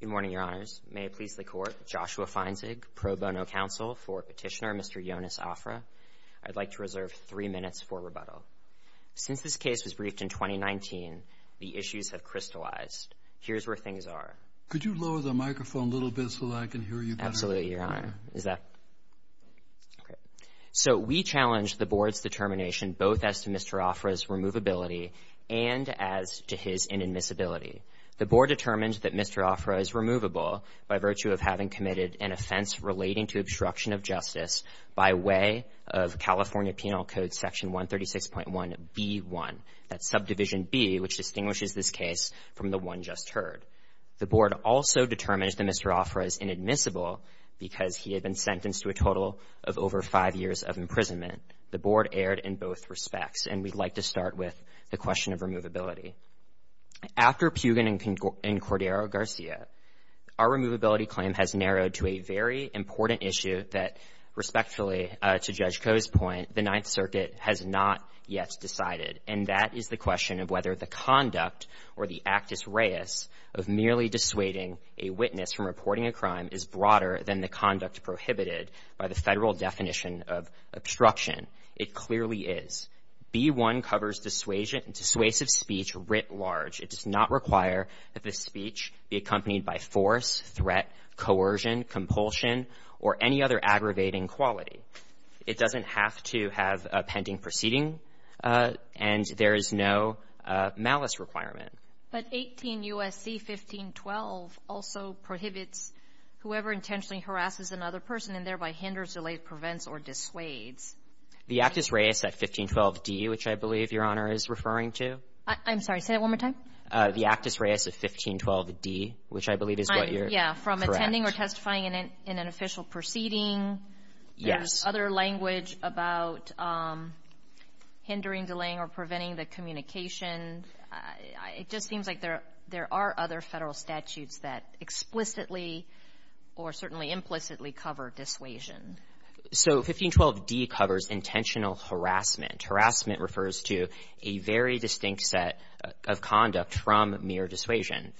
Good morning, Your Honors. May it please the Court, Joshua Feinzig, Pro Bono Counsel for Petitioner Mr. Yonis Afrah. I'd like to reserve three minutes for rebuttal. Since this case was briefed in 2019, the issues have crystallized. Here's where things are. Could you lower the microphone a little bit so that I can hear you better? Absolutely, Your Honor. So we challenged the Board's determination both as to Mr. Afrah's removability and as to his inadmissibility. The Board determined that Mr. Afrah is removable by virtue of having committed an offense relating to obstruction of justice by way of California Penal Code Section 136.1b1, that's Subdivision B, which distinguishes this case from the one just heard. The Board also determined that Mr. Afrah is inadmissible because he had been sentenced to a total of over five years of imprisonment. The Board erred in both respects, and we'd like to start with the question of removability. After Pugin and Cordero Garcia, our removability claim has narrowed to a very important issue that, respectfully, to Judge Koh's point, the Ninth Circuit has not yet decided, and that is the question of whether the conduct or the actus reus of merely dissuading a witness from reporting a crime is broader than the conduct prohibited by the Federal definition of obstruction. It clearly is. B-1 covers dissuasive speech writ large. It does not require that the speech be accompanied by force, threat, coercion, compulsion, or any other aggravating quality. It doesn't have to have a pending proceeding, and there is no malice requirement. But 18 U.S.C. 1512 also prohibits whoever intentionally harasses another person and thereby hinders, delays, prevents, or dissuades. The actus reus at 1512d, which I believe Your Honor is referring to. I'm sorry. Say that one more time. The actus reus at 1512d, which I believe is what you're correct. I'm — yeah. From attending or testifying in an official proceeding. Yes. Other language about hindering, delaying, or preventing the communication. It just seems like there are other Federal statutes that explicitly or certainly implicitly cover dissuasion. So 1512d covers intentional harassment. Harassment refers to a very distinct set of conduct from mere dissuasion.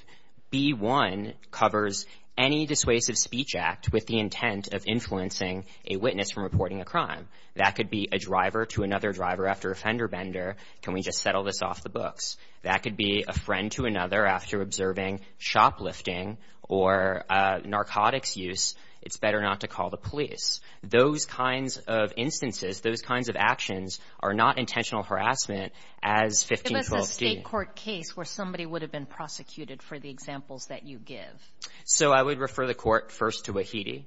B-1 covers any dissuasive speech act with the intent of influencing a witness from reporting a crime. That could be a driver to another driver after a fender bender. Can we just settle this off the books? That could be a friend to another after observing shoplifting or narcotics use. It's better not to call the police. Those kinds of instances, those kinds of actions are not intentional harassment as 1512d. It was a State court case where somebody would have been prosecuted for the examples that you give. So I would refer the Court first to Wahidi.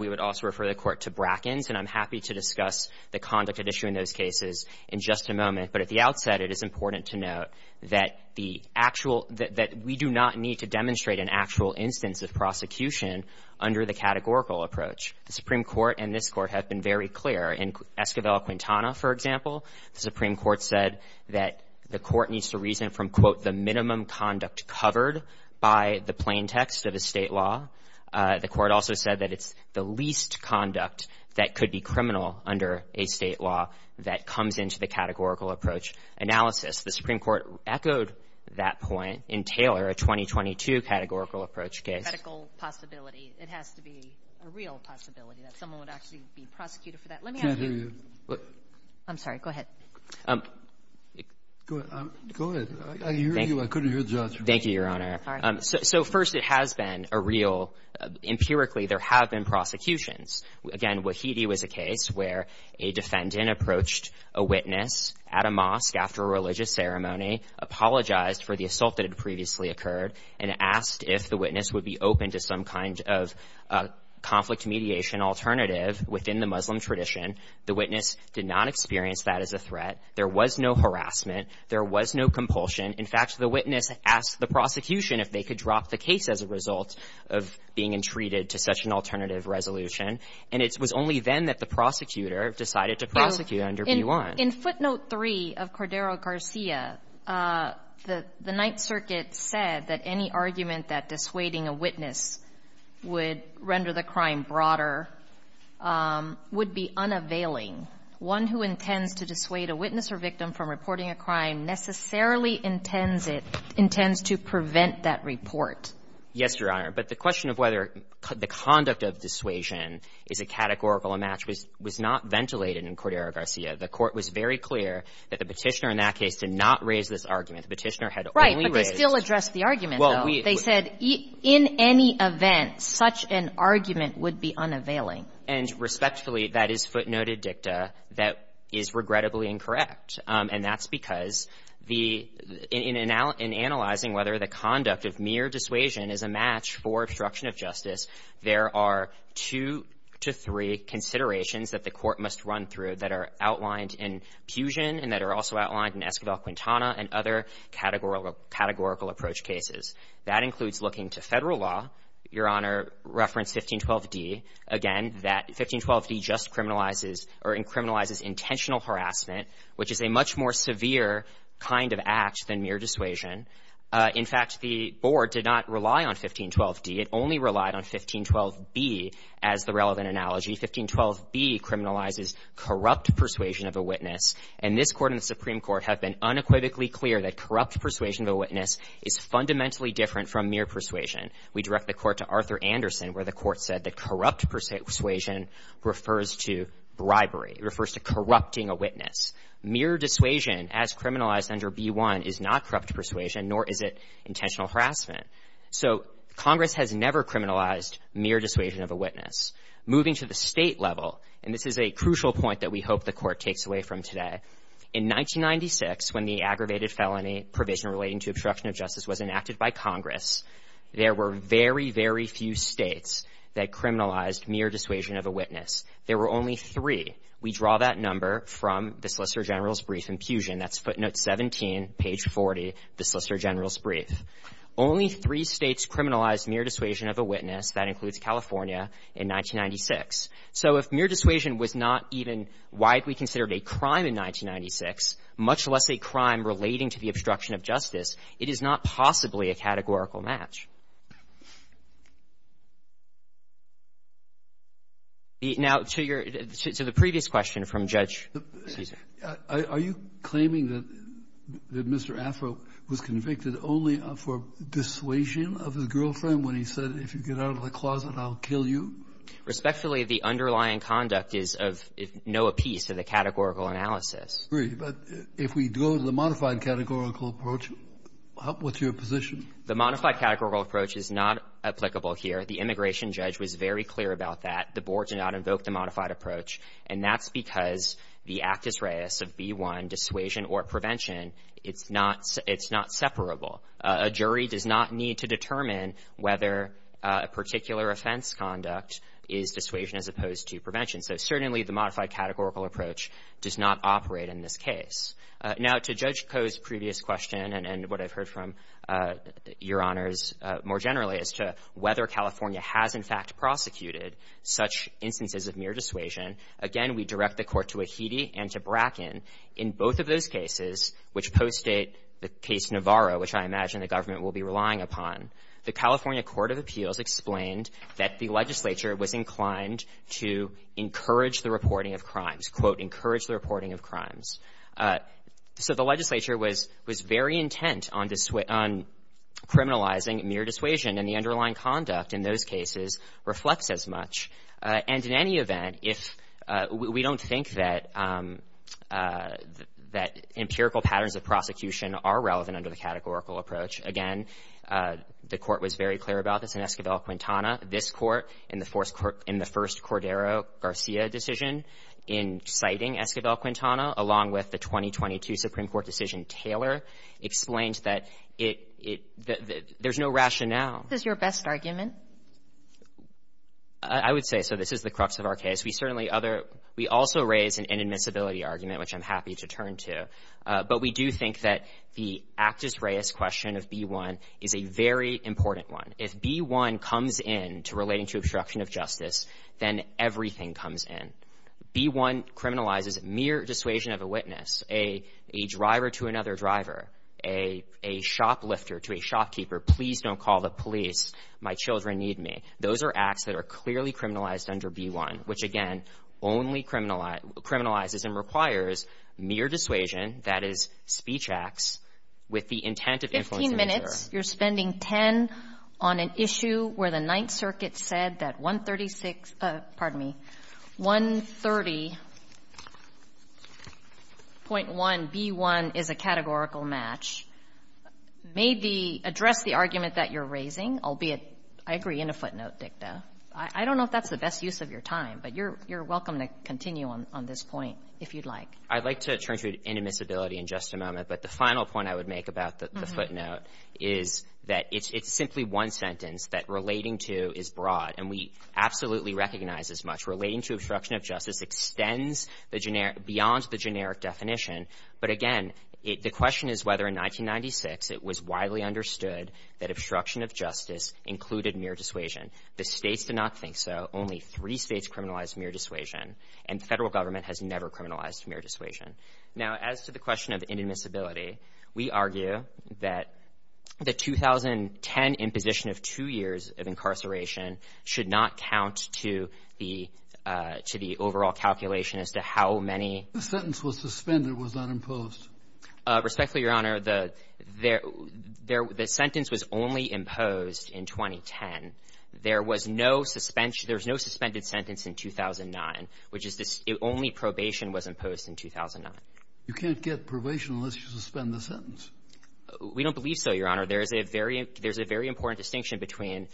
We would also refer the Court to Brackins. And I'm happy to discuss the conduct at issue in those cases in just a moment. But at the outset, it is important to note that the actual — that we do not need to demonstrate an actual instance of prosecution under the categorical approach. The Supreme Court and this Court have been very clear. In Escobedo-Quintana, for example, the Supreme Court said that the Court needs to reason from, quote, the minimum conduct covered by the plaintext of a State law. The Court also said that it's the least conduct that could be criminal under a State law that comes into the categorical approach analysis. The Supreme Court echoed that point in Taylor, a 2022 categorical approach case. A medical possibility. It has to be a real possibility that someone would actually be prosecuted for that. Let me ask you — I can't hear you. I'm sorry. Go ahead. Go ahead. I hear you. I couldn't hear the judge. Thank you, Your Honor. So first, it has been a real — empirically, there have been prosecutions. Again, Wahidi was a case where a defendant approached a witness at a mosque after a religious ceremony, apologized for the assault that had previously occurred, and asked if the witness would be open to some kind of conflict mediation alternative within the Muslim tradition. The witness did not experience that as a threat. There was no harassment. There was no compulsion. In fact, the witness asked the prosecution if they could drop the case as a result of being entreated to such an alternative resolution. And it was only then that the prosecutor decided to prosecute under B-1. In footnote 3 of Cordero-Garcia, the Ninth Circuit said that any argument that dissuading a witness would render the crime broader would be unavailing. One who intends to dissuade a witness or victim from reporting a crime necessarily intends it — intends to prevent that report. Yes, Your Honor. But the question of whether the conduct of dissuasion is a categorical match was not ventilated in Cordero-Garcia. The Court was very clear that the Petitioner in that case did not raise this argument. The Petitioner had only raised — Right. But they still addressed the argument, though. Well, we — They said in any event, such an argument would be unavailing. And respectfully, that is footnoted dicta that is regrettably incorrect. And that's because the — in analyzing whether the conduct of mere dissuasion is a match for obstruction of justice, there are two to three considerations that the Court must run through that are outlined in Pugin and that are also outlined in Esquivel-Quintana and other categorical approach cases. That includes looking to Federal law, Your Honor, reference 1512d. Again, that 1512d just criminalizes or criminalizes intentional harassment, which is a much more severe kind of act than mere dissuasion. In fact, the Board did not rely on 1512d. It only relied on 1512b as the relevant analogy. 1512b criminalizes corrupt persuasion of a witness. And this Court and the Supreme Court have been unequivocally clear that corrupt persuasion of a witness is fundamentally different from mere persuasion. We direct the Court to Arthur Anderson, where the Court said that corrupt persuasion refers to bribery. It refers to corrupting a witness. Mere dissuasion, as criminalized under B-1, is not corrupt persuasion, nor is it intentional harassment. So Congress has never criminalized mere dissuasion of a witness. Moving to the State level, and this is a crucial point that we hope the Court takes away from today, in 1996, when the aggravated felony provision relating to obstruction of justice was enacted by Congress, there were very, very few states that criminalized mere dissuasion of a witness. There were only three. We draw that number from the Solicitor General's brief in Pugin. That's footnote 17, page 40, the Solicitor General's brief. Only three states criminalized mere dissuasion of a witness. That includes California in 1996. So if mere dissuasion was not even widely considered a crime in 1996, much less a crime relating to the obstruction of justice, it is not possibly a categorical match. Now, to your — to the previous question from Judge Ceasar. Are you claiming that Mr. Afro was convicted only for dissuasion of his girlfriend when he said, if you get out of the closet, I'll kill you? Respectfully, the underlying conduct is of no appease to the categorical analysis. Kennedy, but if we go to the modified categorical approach, what's your position? The modified categorical approach is not applicable here. The immigration judge was very clear about that. The board did not invoke the modified approach. And that's because the actus reus of B-1, dissuasion or prevention, it's not — it's not separable. A jury does not need to determine whether a particular offense conduct is dissuasion as opposed to prevention. So certainly, the modified categorical approach does not operate in this case. Now, to Judge Koh's previous question and what I've heard from Your Honors more generally as to whether California has, in fact, prosecuted such instances of mere dissuasion, again, we direct the Court to Ahidi and to Bracken. In both of those cases, which postdate the case Navarro, which I imagine the government will be relying upon, the California Court of Appeals explained that the legislature was inclined to encourage the reporting of crimes, quote, encourage the reporting of crimes. So the legislature was very intent on criminalizing mere dissuasion, and the underlying conduct in those cases reflects as much. And in any event, if — we don't think that empirical patterns of prosecution are relevant under the categorical approach. Again, the Court was very clear about this in Esquivel-Quintana. This Court, in the first Cordero-Garcia decision, in citing Esquivel-Quintana, along with the 2022 Supreme Court decision Taylor, explained that it — there's no rationale. Sotomayor, I would say, so this is the crux of our case. We certainly other — we also raise an inadmissibility argument, which I'm happy to turn to, but we do think that the Actus Reis question of B-1 is a very important one. If B-1 comes in to relating to obstruction of justice, then everything comes in. B-1 criminalizes mere dissuasion of a witness, a driver to another driver, a shoplifter to a shopkeeper, please don't call the police, my children need me. Those are acts that are clearly criminalized under B-1, which, again, only criminalizes and requires mere dissuasion, that is, speech acts, with the intent of influencing the juror. Kagan, in your 10 minutes, you're spending 10 on an issue where the Ninth Circuit said that 136 — pardon me, 130.1B-1 is a categorical match. May the — address the argument that you're raising, albeit, I agree, in a footnote dicta. I don't know if that's the best use of your time, but you're welcome to continue on this point, if you'd like. I'd like to turn to inadmissibility in just a moment. But the final point I would make about the footnote is that it's simply one sentence that relating to is broad, and we absolutely recognize as much. Relating to obstruction of justice extends the generic — beyond the generic definition. But again, the question is whether in 1996 it was widely understood that obstruction of justice included mere dissuasion. The States did not think so. Only three States criminalized mere dissuasion, and the Federal government has never criminalized mere dissuasion. Now, as to the question of inadmissibility, we argue that the 2010 imposition of two years of incarceration should not count to the — to the overall calculation as to how many — Kennedy. The sentence was suspended, was not imposed. Winsor. Respectfully, Your Honor, the — there — the sentence was only imposed in 2010. There was no suspension — there was no suspended sentence in 2009, which is — only probation was imposed in 2009. You can't get probation unless you suspend the sentence. We don't believe so, Your Honor. There's a very — there's a very important distinction between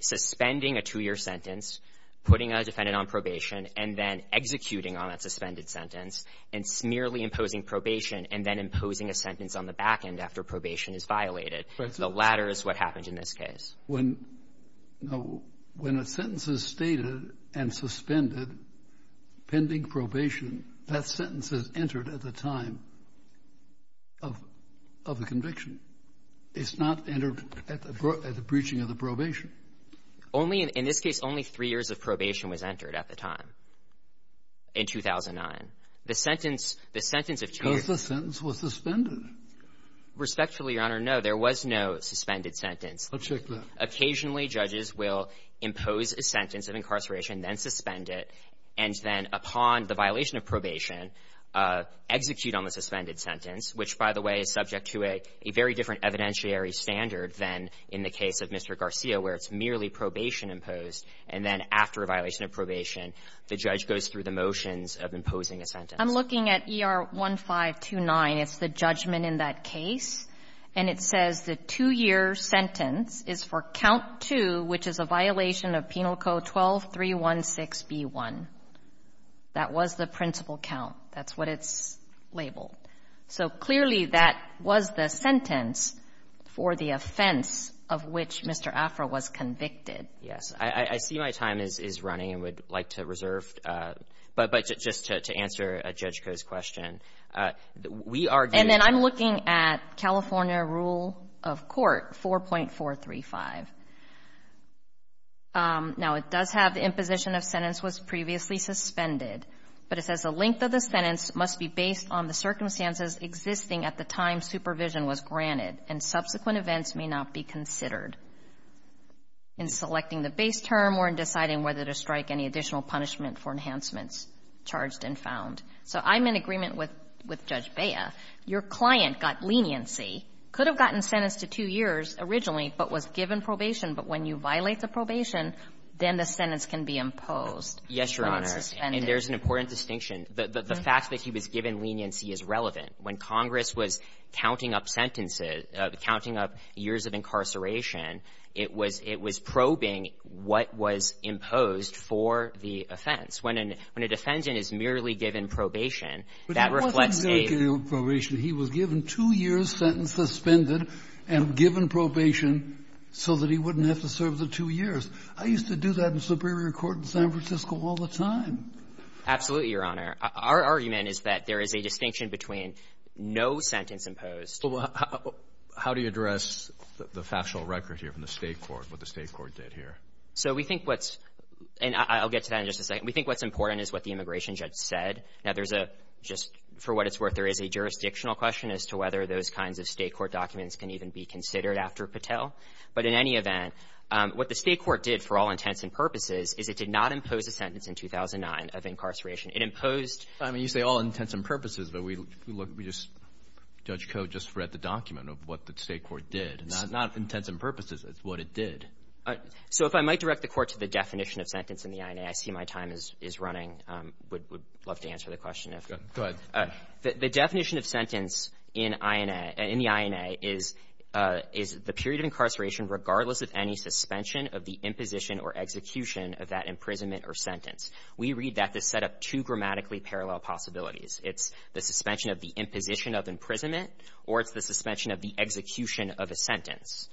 suspending a two-year sentence, putting a defendant on probation, and then executing on that suspended sentence, and merely imposing probation, and then imposing a sentence on the back end after probation is violated. The latter is what happened in this case. When — no. When a sentence is stated and suspended pending probation, that sentence is entered at the time of — of the conviction. It's not entered at the — at the breaching of the probation. Only — in this case, only three years of probation was entered at the time in 2009. The sentence — the sentence of two years — Because the sentence was suspended. Respectfully, Your Honor, no. There was no suspended sentence. I'll check that. Occasionally, judges will impose a sentence of incarceration, then suspend it, and then upon the violation of probation, execute on the suspended sentence, which, by the way, is subject to a very different evidentiary standard than in the case of Mr. Garcia, where it's merely probation imposed. And then after a violation of probation, the judge goes through the motions of imposing a sentence. I'm looking at ER1529. It's the judgment in that case. And it says the two-year sentence is for count 2, which is a violation of Penal Code 12-316B1. That was the principal count. That's what it's labeled. So clearly, that was the sentence for the offense of which Mr. Afra was convicted. I see my time is running and would like to reserve. But just to answer Judge Koh's question, we are doing the — And then I'm looking at California Rule of Court 4.435. Now, it does have the imposition of sentence was previously suspended, but it says the length of the sentence must be based on the circumstances existing at the time supervision was granted, and subsequent events may not be considered. In selecting the base term or in deciding whether to strike any additional punishment for enhancements charged and found. So I'm in agreement with Judge Bea. Your client got leniency, could have gotten sentenced to two years originally, but was given probation. But when you violate the probation, then the sentence can be imposed, not suspended. Yes, Your Honor. And there's an important distinction. The fact that he was given leniency is relevant. When Congress was counting up sentences, counting up years of incarceration, it was probing what was imposed for the offense. When a defendant is merely given probation, that reflects a — But he wasn't merely given probation. He was given two years' sentence suspended and given probation so that he wouldn't have to serve the two years. I used to do that in Superior Court in San Francisco all the time. Absolutely, Your Honor. Our argument is that there is a distinction between no sentence imposed — Well, how do you address the factual record here from the State court, what the State court did here? So we think what's — and I'll get to that in just a second. We think what's important is what the immigration judge said. Now, there's a — just for what it's worth, there is a jurisdictional question as to whether those kinds of State court documents can even be considered after Patel. But in any event, what the State court did for all intents and purposes is it did not impose a sentence in 2009 of incarceration. It imposed — I mean, you say all intents and purposes, but we look — we just — Judge Cote, I just read the document of what the State court did, not intents and purposes. It's what it did. So if I might direct the Court to the definition of sentence in the INA, I see my time is running. I would love to answer the question if — Go ahead. The definition of sentence in INA — in the INA is the period of incarceration regardless of any suspension of the imposition or execution of that imprisonment or sentence. We read that to set up two grammatically parallel possibilities. It's the suspension of the imposition of imprisonment, or it's the suspension of the execution of a sentence.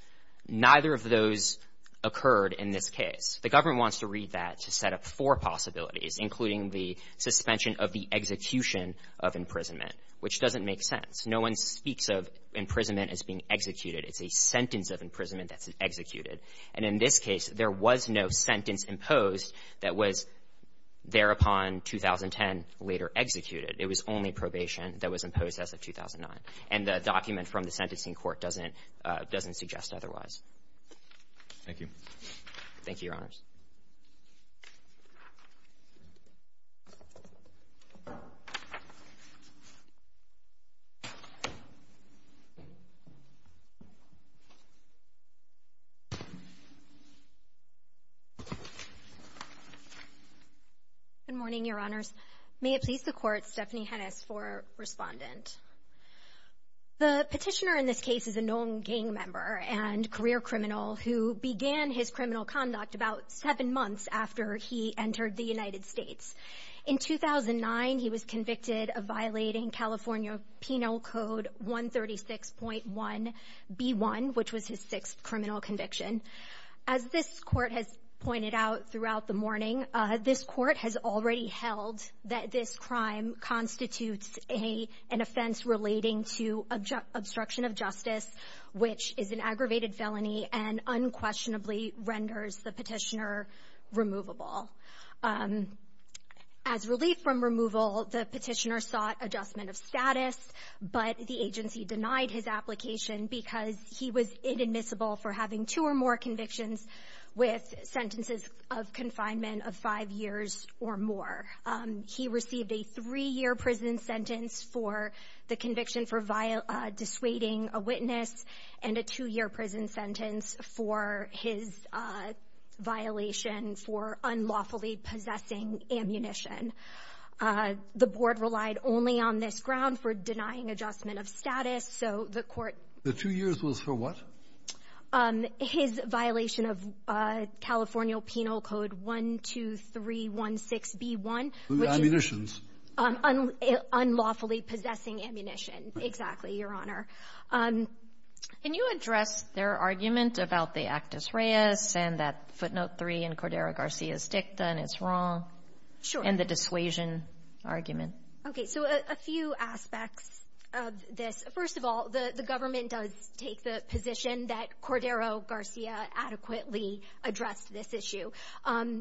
Neither of those occurred in this case. The government wants to read that to set up four possibilities, including the suspension of the execution of imprisonment, which doesn't make sense. No one speaks of imprisonment as being executed. It's a sentence of imprisonment that's executed. And in this case, there was no sentence imposed that was thereupon 2010 later executed. It was only probation that was imposed as of 2009. And the document from the sentencing court doesn't — doesn't suggest otherwise. Thank you. Good morning, Your Honors. May it please the Court, Stephanie Hennis for Respondent. The petitioner in this case is a known gang member and career criminal who began his criminal conduct about seven months after he entered the United States. In 2009, he was convicted of violating California Penal Code 136.1b1, which was his sixth criminal conviction. As this Court has pointed out throughout the morning, this Court has already held that this crime constitutes an offense relating to obstruction of justice, which is an aggravated felony and unquestionably renders the petitioner removable. As relief from removal, the petitioner sought adjustment of status, but the agency denied his application because he was inadmissible for having two or more convictions with sentences of confinement of five years or more. He received a three-year prison sentence for the conviction for dissuading a witness and a two-year prison sentence for his violation for unlawfully possessing ammunition. And the board relied only on this ground for denying adjustment of status. So the Court — The two years was for what? His violation of California Penal Code 12316b1, which is — Ammunitions. Unlawfully possessing ammunition. Exactly, Your Honor. Can you address their argument about the actus reus and that footnote 3 in Cordero Garcia's dicta, and it's wrong? Sure. And the dissuasion argument. Okay. So a few aspects of this. First of all, the government does take the position that Cordero Garcia adequately addressed this issue.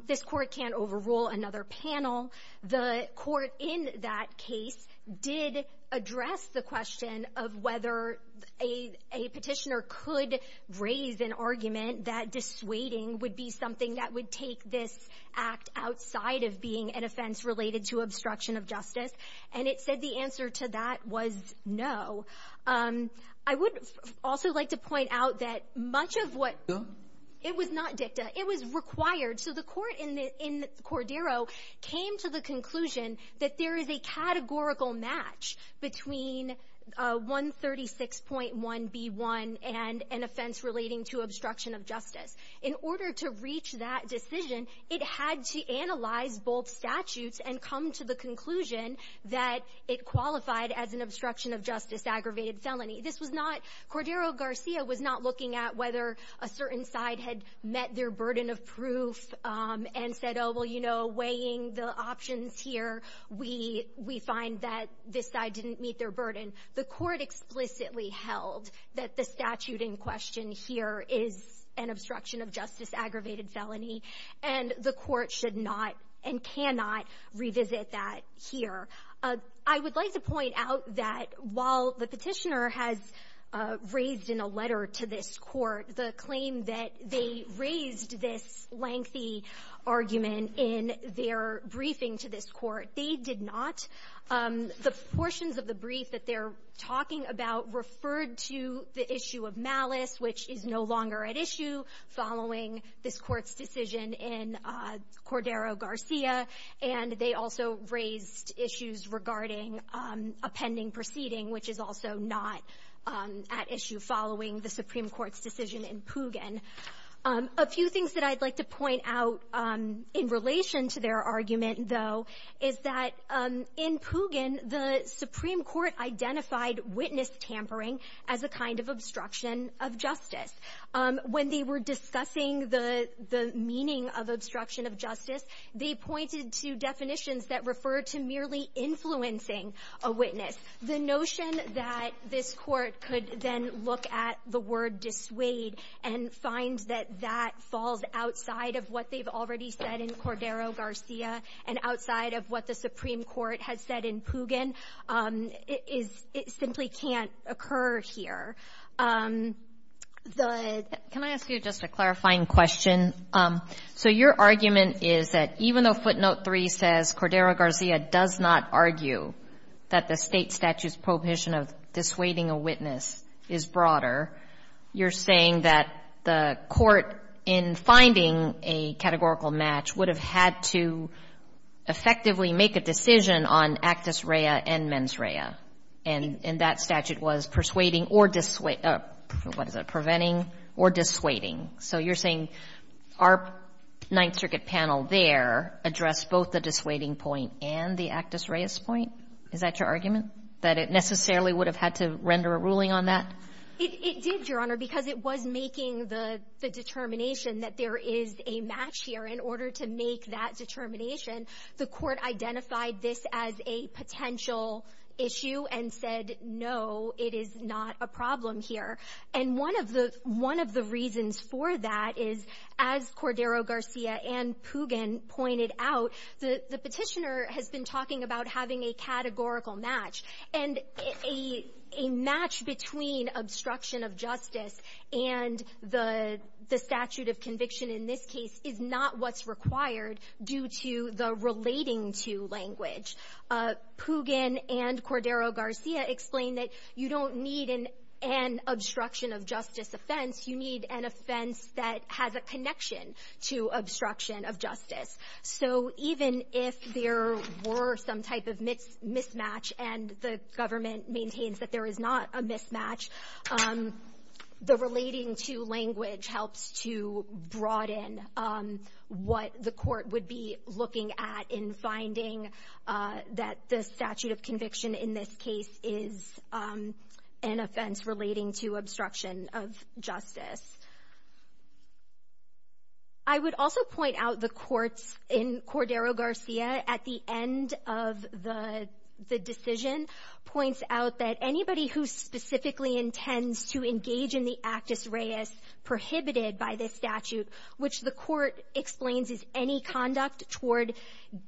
This Court can't overrule another panel. The Court in that case did address the question of whether a petitioner could raise an argument that dissuading would be something that would take this act outside of being an offense related to obstruction of justice. And it said the answer to that was no. I would also like to point out that much of what — Dicta? It was not dicta. It was required. So the Court in the — in Cordero came to the conclusion that there is a categorical match between 136.1b1 and an offense relating to obstruction of justice. In order to reach that decision, it had to analyze both statutes and come to the conclusion that it qualified as an obstruction of justice aggravated felony. This was not — Cordero Garcia was not looking at whether a certain side had met their burden of proof and said, oh, well, you know, weighing the options here, we — we find that this side didn't meet their burden. The Court explicitly held that the statute in question here is an obstruction of justice aggravated felony, and the Court should not and cannot revisit that here. I would like to point out that while the petitioner has raised in a letter to this Court the claim that they raised this lengthy argument in their briefing to this Court, they're talking about — referred to the issue of malice, which is no longer at issue following this Court's decision in Cordero Garcia. And they also raised issues regarding a pending proceeding, which is also not at issue following the Supreme Court's decision in Pugin. A few things that I'd like to point out in relation to their argument, though, is that in Pugin, the Supreme Court identified witness tampering as a kind of obstruction of justice. When they were discussing the — the meaning of obstruction of justice, they pointed to definitions that referred to merely influencing a witness. The notion that this Court could then look at the word dissuade and find that that outside of what they've already said in Cordero Garcia and outside of what the Supreme Court has said in Pugin is — it simply can't occur here. The — Can I ask you just a clarifying question? So your argument is that even though footnote 3 says Cordero Garcia does not argue that the State statute's prohibition of dissuading a witness is broader, you're saying that the Court in finding a categorical match would have had to effectively make a decision on actus rea and mens rea, and that statute was persuading or — what is it? Preventing or dissuading. So you're saying our Ninth Circuit panel there addressed both the dissuading point and the actus rea's point? Is that your argument? That it necessarily would have had to render a ruling on that? It did, Your Honor, because it was making the determination that there is a match here. In order to make that determination, the Court identified this as a potential issue and said, no, it is not a problem here. And one of the — one of the reasons for that is, as Cordero Garcia and Pugin pointed out, the Petitioner has been talking about having a categorical match. And a match between obstruction of justice and the statute of conviction in this case is not what's required due to the relating-to language. Pugin and Cordero Garcia explain that you don't need an obstruction of justice offense. You need an offense that has a connection to obstruction of justice. So even if there were some type of mismatch and the government maintains that there is not a mismatch, the relating-to language helps to broaden what the Court would be looking at in finding that the statute of conviction in this case is an offense relating to obstruction of justice. I would also point out the courts in Cordero Garcia, at the end of the decision, points out that anybody who specifically intends to engage in the actus reus prohibited by this statute, which the Court explains is any conduct toward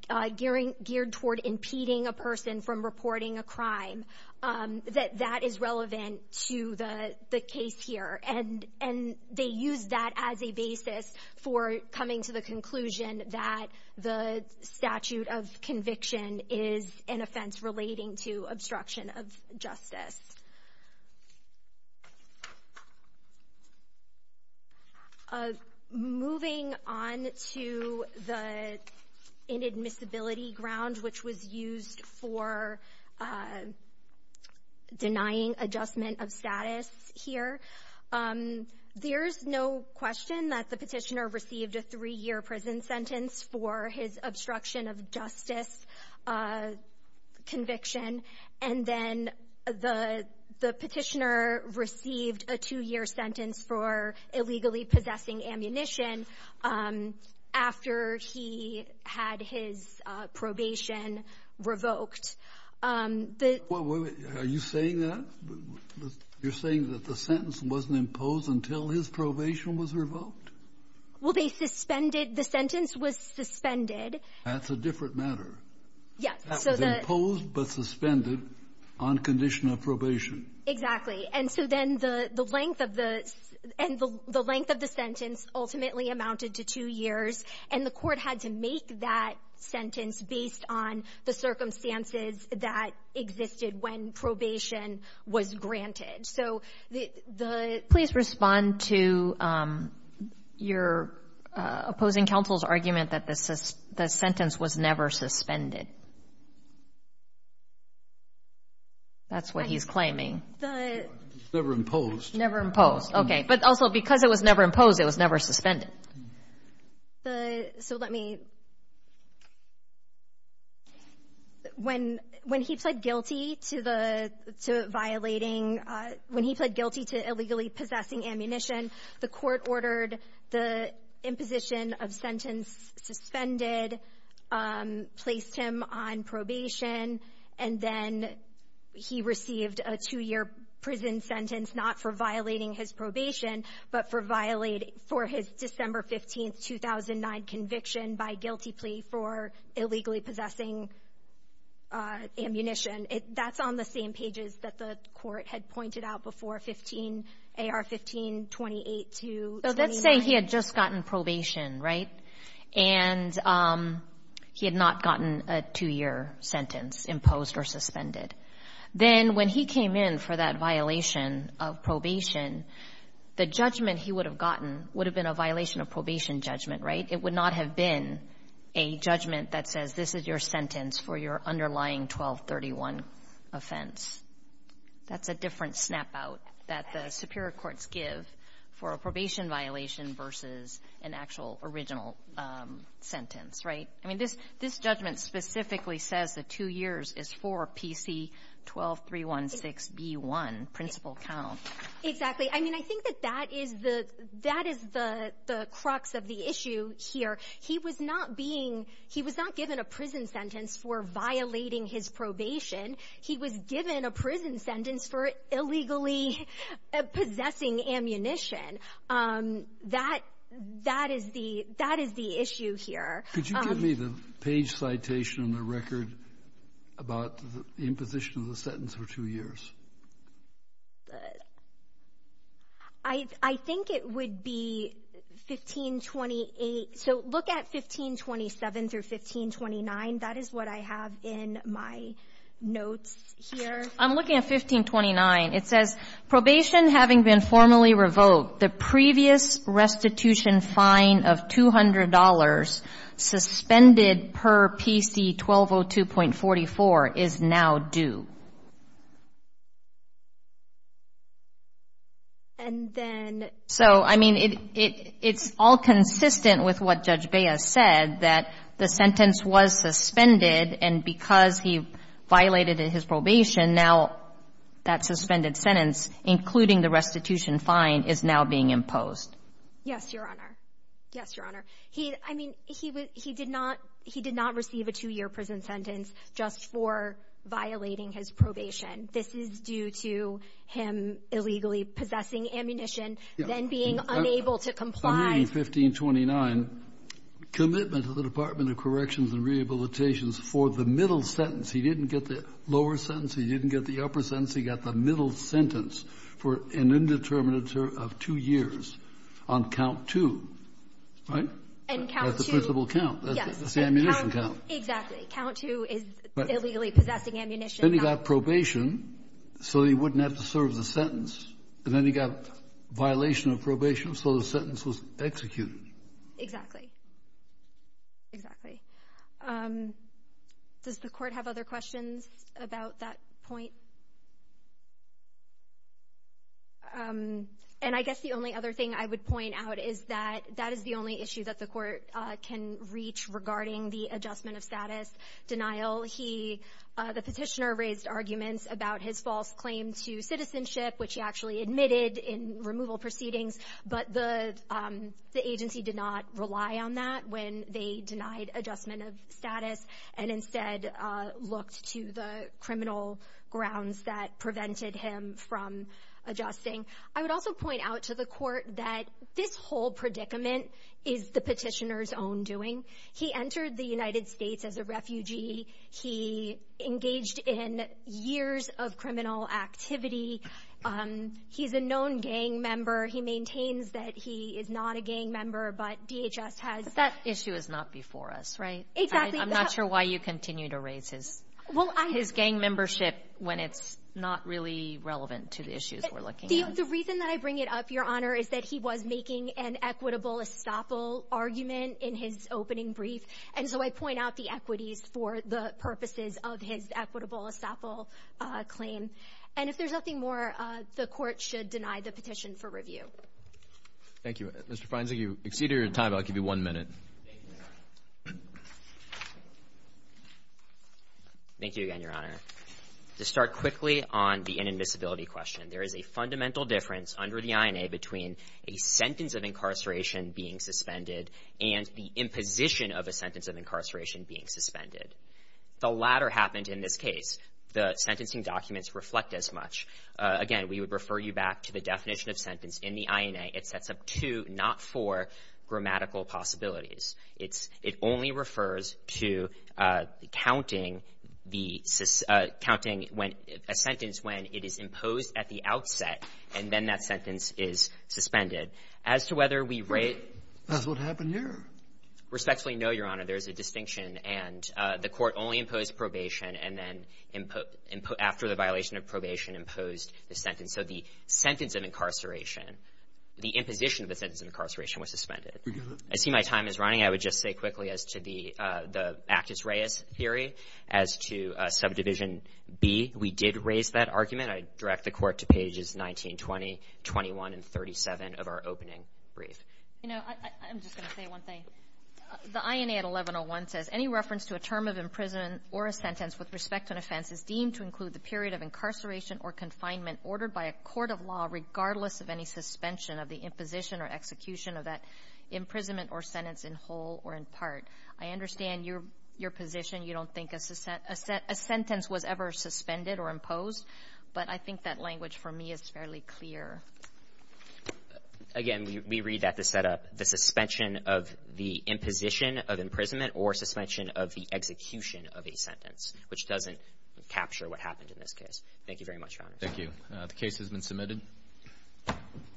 — geared toward impeding a person from reporting a crime, that that is relevant to the case here. And they use that as a basis for coming to the conclusion that the statute of conviction is an offense relating to obstruction of justice. Moving on to the inadmissibility ground, which was used for denying adjustment of status here. There's no question that the petitioner received a three-year prison sentence for his obstruction of justice conviction. And then the petitioner received a two-year sentence for illegally possessing ammunition after he had his probation revoked. The — Are you saying that? You're saying that the sentence wasn't imposed until his probation was revoked? Well, they suspended — the sentence was suspended. That's a different matter. Yes. That was imposed but suspended on condition of probation. Exactly. And so then the length of the — and the length of the sentence ultimately amounted to two years, and the Court had to make that sentence based on the circumstances that existed when probation was granted. So the — Please respond to your opposing counsel's argument that the sentence was never suspended. That's what he's claiming. Never imposed. Never imposed. Okay. But also, because it was never imposed, it was never suspended. The — so let me — when he pled guilty to the — to violating — when he pled guilty to illegally possessing ammunition, the Court ordered the imposition of sentence suspended, placed him on probation, and then he received a two-year prison sentence not for violation — not for violating his probation, but for violating — for his December 15, 2009, conviction by guilty plea for illegally possessing ammunition. That's on the same pages that the Court had pointed out before, 15 — AR-15-28-29. So let's say he had just gotten probation, right? And he had not gotten a two-year sentence imposed or suspended. Then when he came in for that violation of probation, the judgment he would have gotten would have been a violation of probation judgment, right? It would not have been a judgment that says this is your sentence for your underlying 1231 offense. That's a different snap-out that the superior courts give for a probation violation versus an actual original sentence, right? I mean, this — this judgment specifically says that two years is for PC-12316B1, principal count. Exactly. I mean, I think that that is the — that is the crux of the issue here. He was not being — he was not given a prison sentence for violating his probation. He was given a prison sentence for illegally possessing ammunition. That — that is the — that is the issue here. Could you give me the page citation on the record about the imposition of the sentence for two years? I think it would be 1528. So look at 1527 through 1529. That is what I have in my notes here. I'm looking at 1529. It says, Probation having been formally revoked, the previous restitution fine of $200 suspended per PC-1202.44 is now due. And then — So, I mean, it — it's all consistent with what Judge Baez said, that the sentence was suspended, and because he violated his probation, now that suspended sentence, including the restitution fine, is now being imposed. Yes, Your Honor. Yes, Your Honor. He — I mean, he did not — he did not receive a two-year prison sentence just for violating his probation. This is due to him illegally possessing ammunition, then being unable to comply. I'm reading 1529, commitment to the Department of Corrections and Rehabilitations for the middle sentence. He didn't get the lower sentence. He didn't get the upper sentence. He got the middle sentence for an indeterminate term of two years on count two. Right? And count two — That's the principal count. Yes. That's the ammunition count. Exactly. Count two is illegally possessing ammunition. Then he got probation, so he wouldn't have to serve the sentence. And then he got violation of probation, so the sentence was executed. Exactly. Exactly. Does the Court have other questions about that point? And I guess the only other thing I would point out is that that is the only issue that the Court can reach regarding the adjustment of status denial. The petitioner raised arguments about his false claim to citizenship, which he actually admitted in removal proceedings, but the agency did not rely on that when they denied adjustment of status and instead looked to the criminal grounds that prevented him from adjusting. I would also point out to the Court that this whole predicament is the petitioner's own doing. He entered the United States as a refugee. He engaged in years of criminal activity. He's a known gang member. He maintains that he is not a gang member, but DHS has — But that issue is not before us, right? Exactly. I'm not sure why you continue to raise his gang membership when it's not really relevant to the issues we're looking at. The reason that I bring it up, Your Honor, is that he was making an equitable estoppel argument in his opening brief, and so I point out the equities for the purposes of his equitable estoppel claim. And if there's nothing more, the Court should deny the petition for review. Thank you. Mr. Feinzig, you exceeded your time. I'll give you one minute. Thank you again, Your Honor. To start quickly on the inadmissibility question, there is a fundamental difference under the INA between a sentence of incarceration being suspended and the imposition of a sentence of incarceration being suspended. The latter happened in this case. The sentencing documents reflect as much. Again, we would refer you back to the definition of sentence in the INA. It sets up two, not four, grammatical possibilities. It only refers to counting a sentence when it is imposed at the outset, and then that sentence is suspended. As to whether we rate — That's what happened here. Respectfully, no, Your Honor. There is a distinction. And the Court only imposed probation and then after the violation of probation imposed the sentence. So the sentence of incarceration, the imposition of the sentence of incarceration was suspended. I see my time is running. I would just say quickly as to the Actus Reis theory, as to Subdivision B, we did raise that argument. I direct the Court to pages 19, 20, 21, and 37 of our opening brief. You know, I'm just going to say one thing. The INA at 1101 says, Any reference to a term of imprisonment or a sentence with respect to an offense is deemed to include the period of incarceration or confinement ordered by a court of law regardless of any suspension of the imposition or execution of that imprisonment or sentence in whole or in part. I understand your position. You don't think a sentence was ever suspended or imposed, but I think that language for me is fairly clear. Again, we read that to set up the suspension of the imposition of imprisonment or suspension of the execution of a sentence, which doesn't capture what happened in this case. Thank you very much, Your Honor. Thank you. The case has been submitted.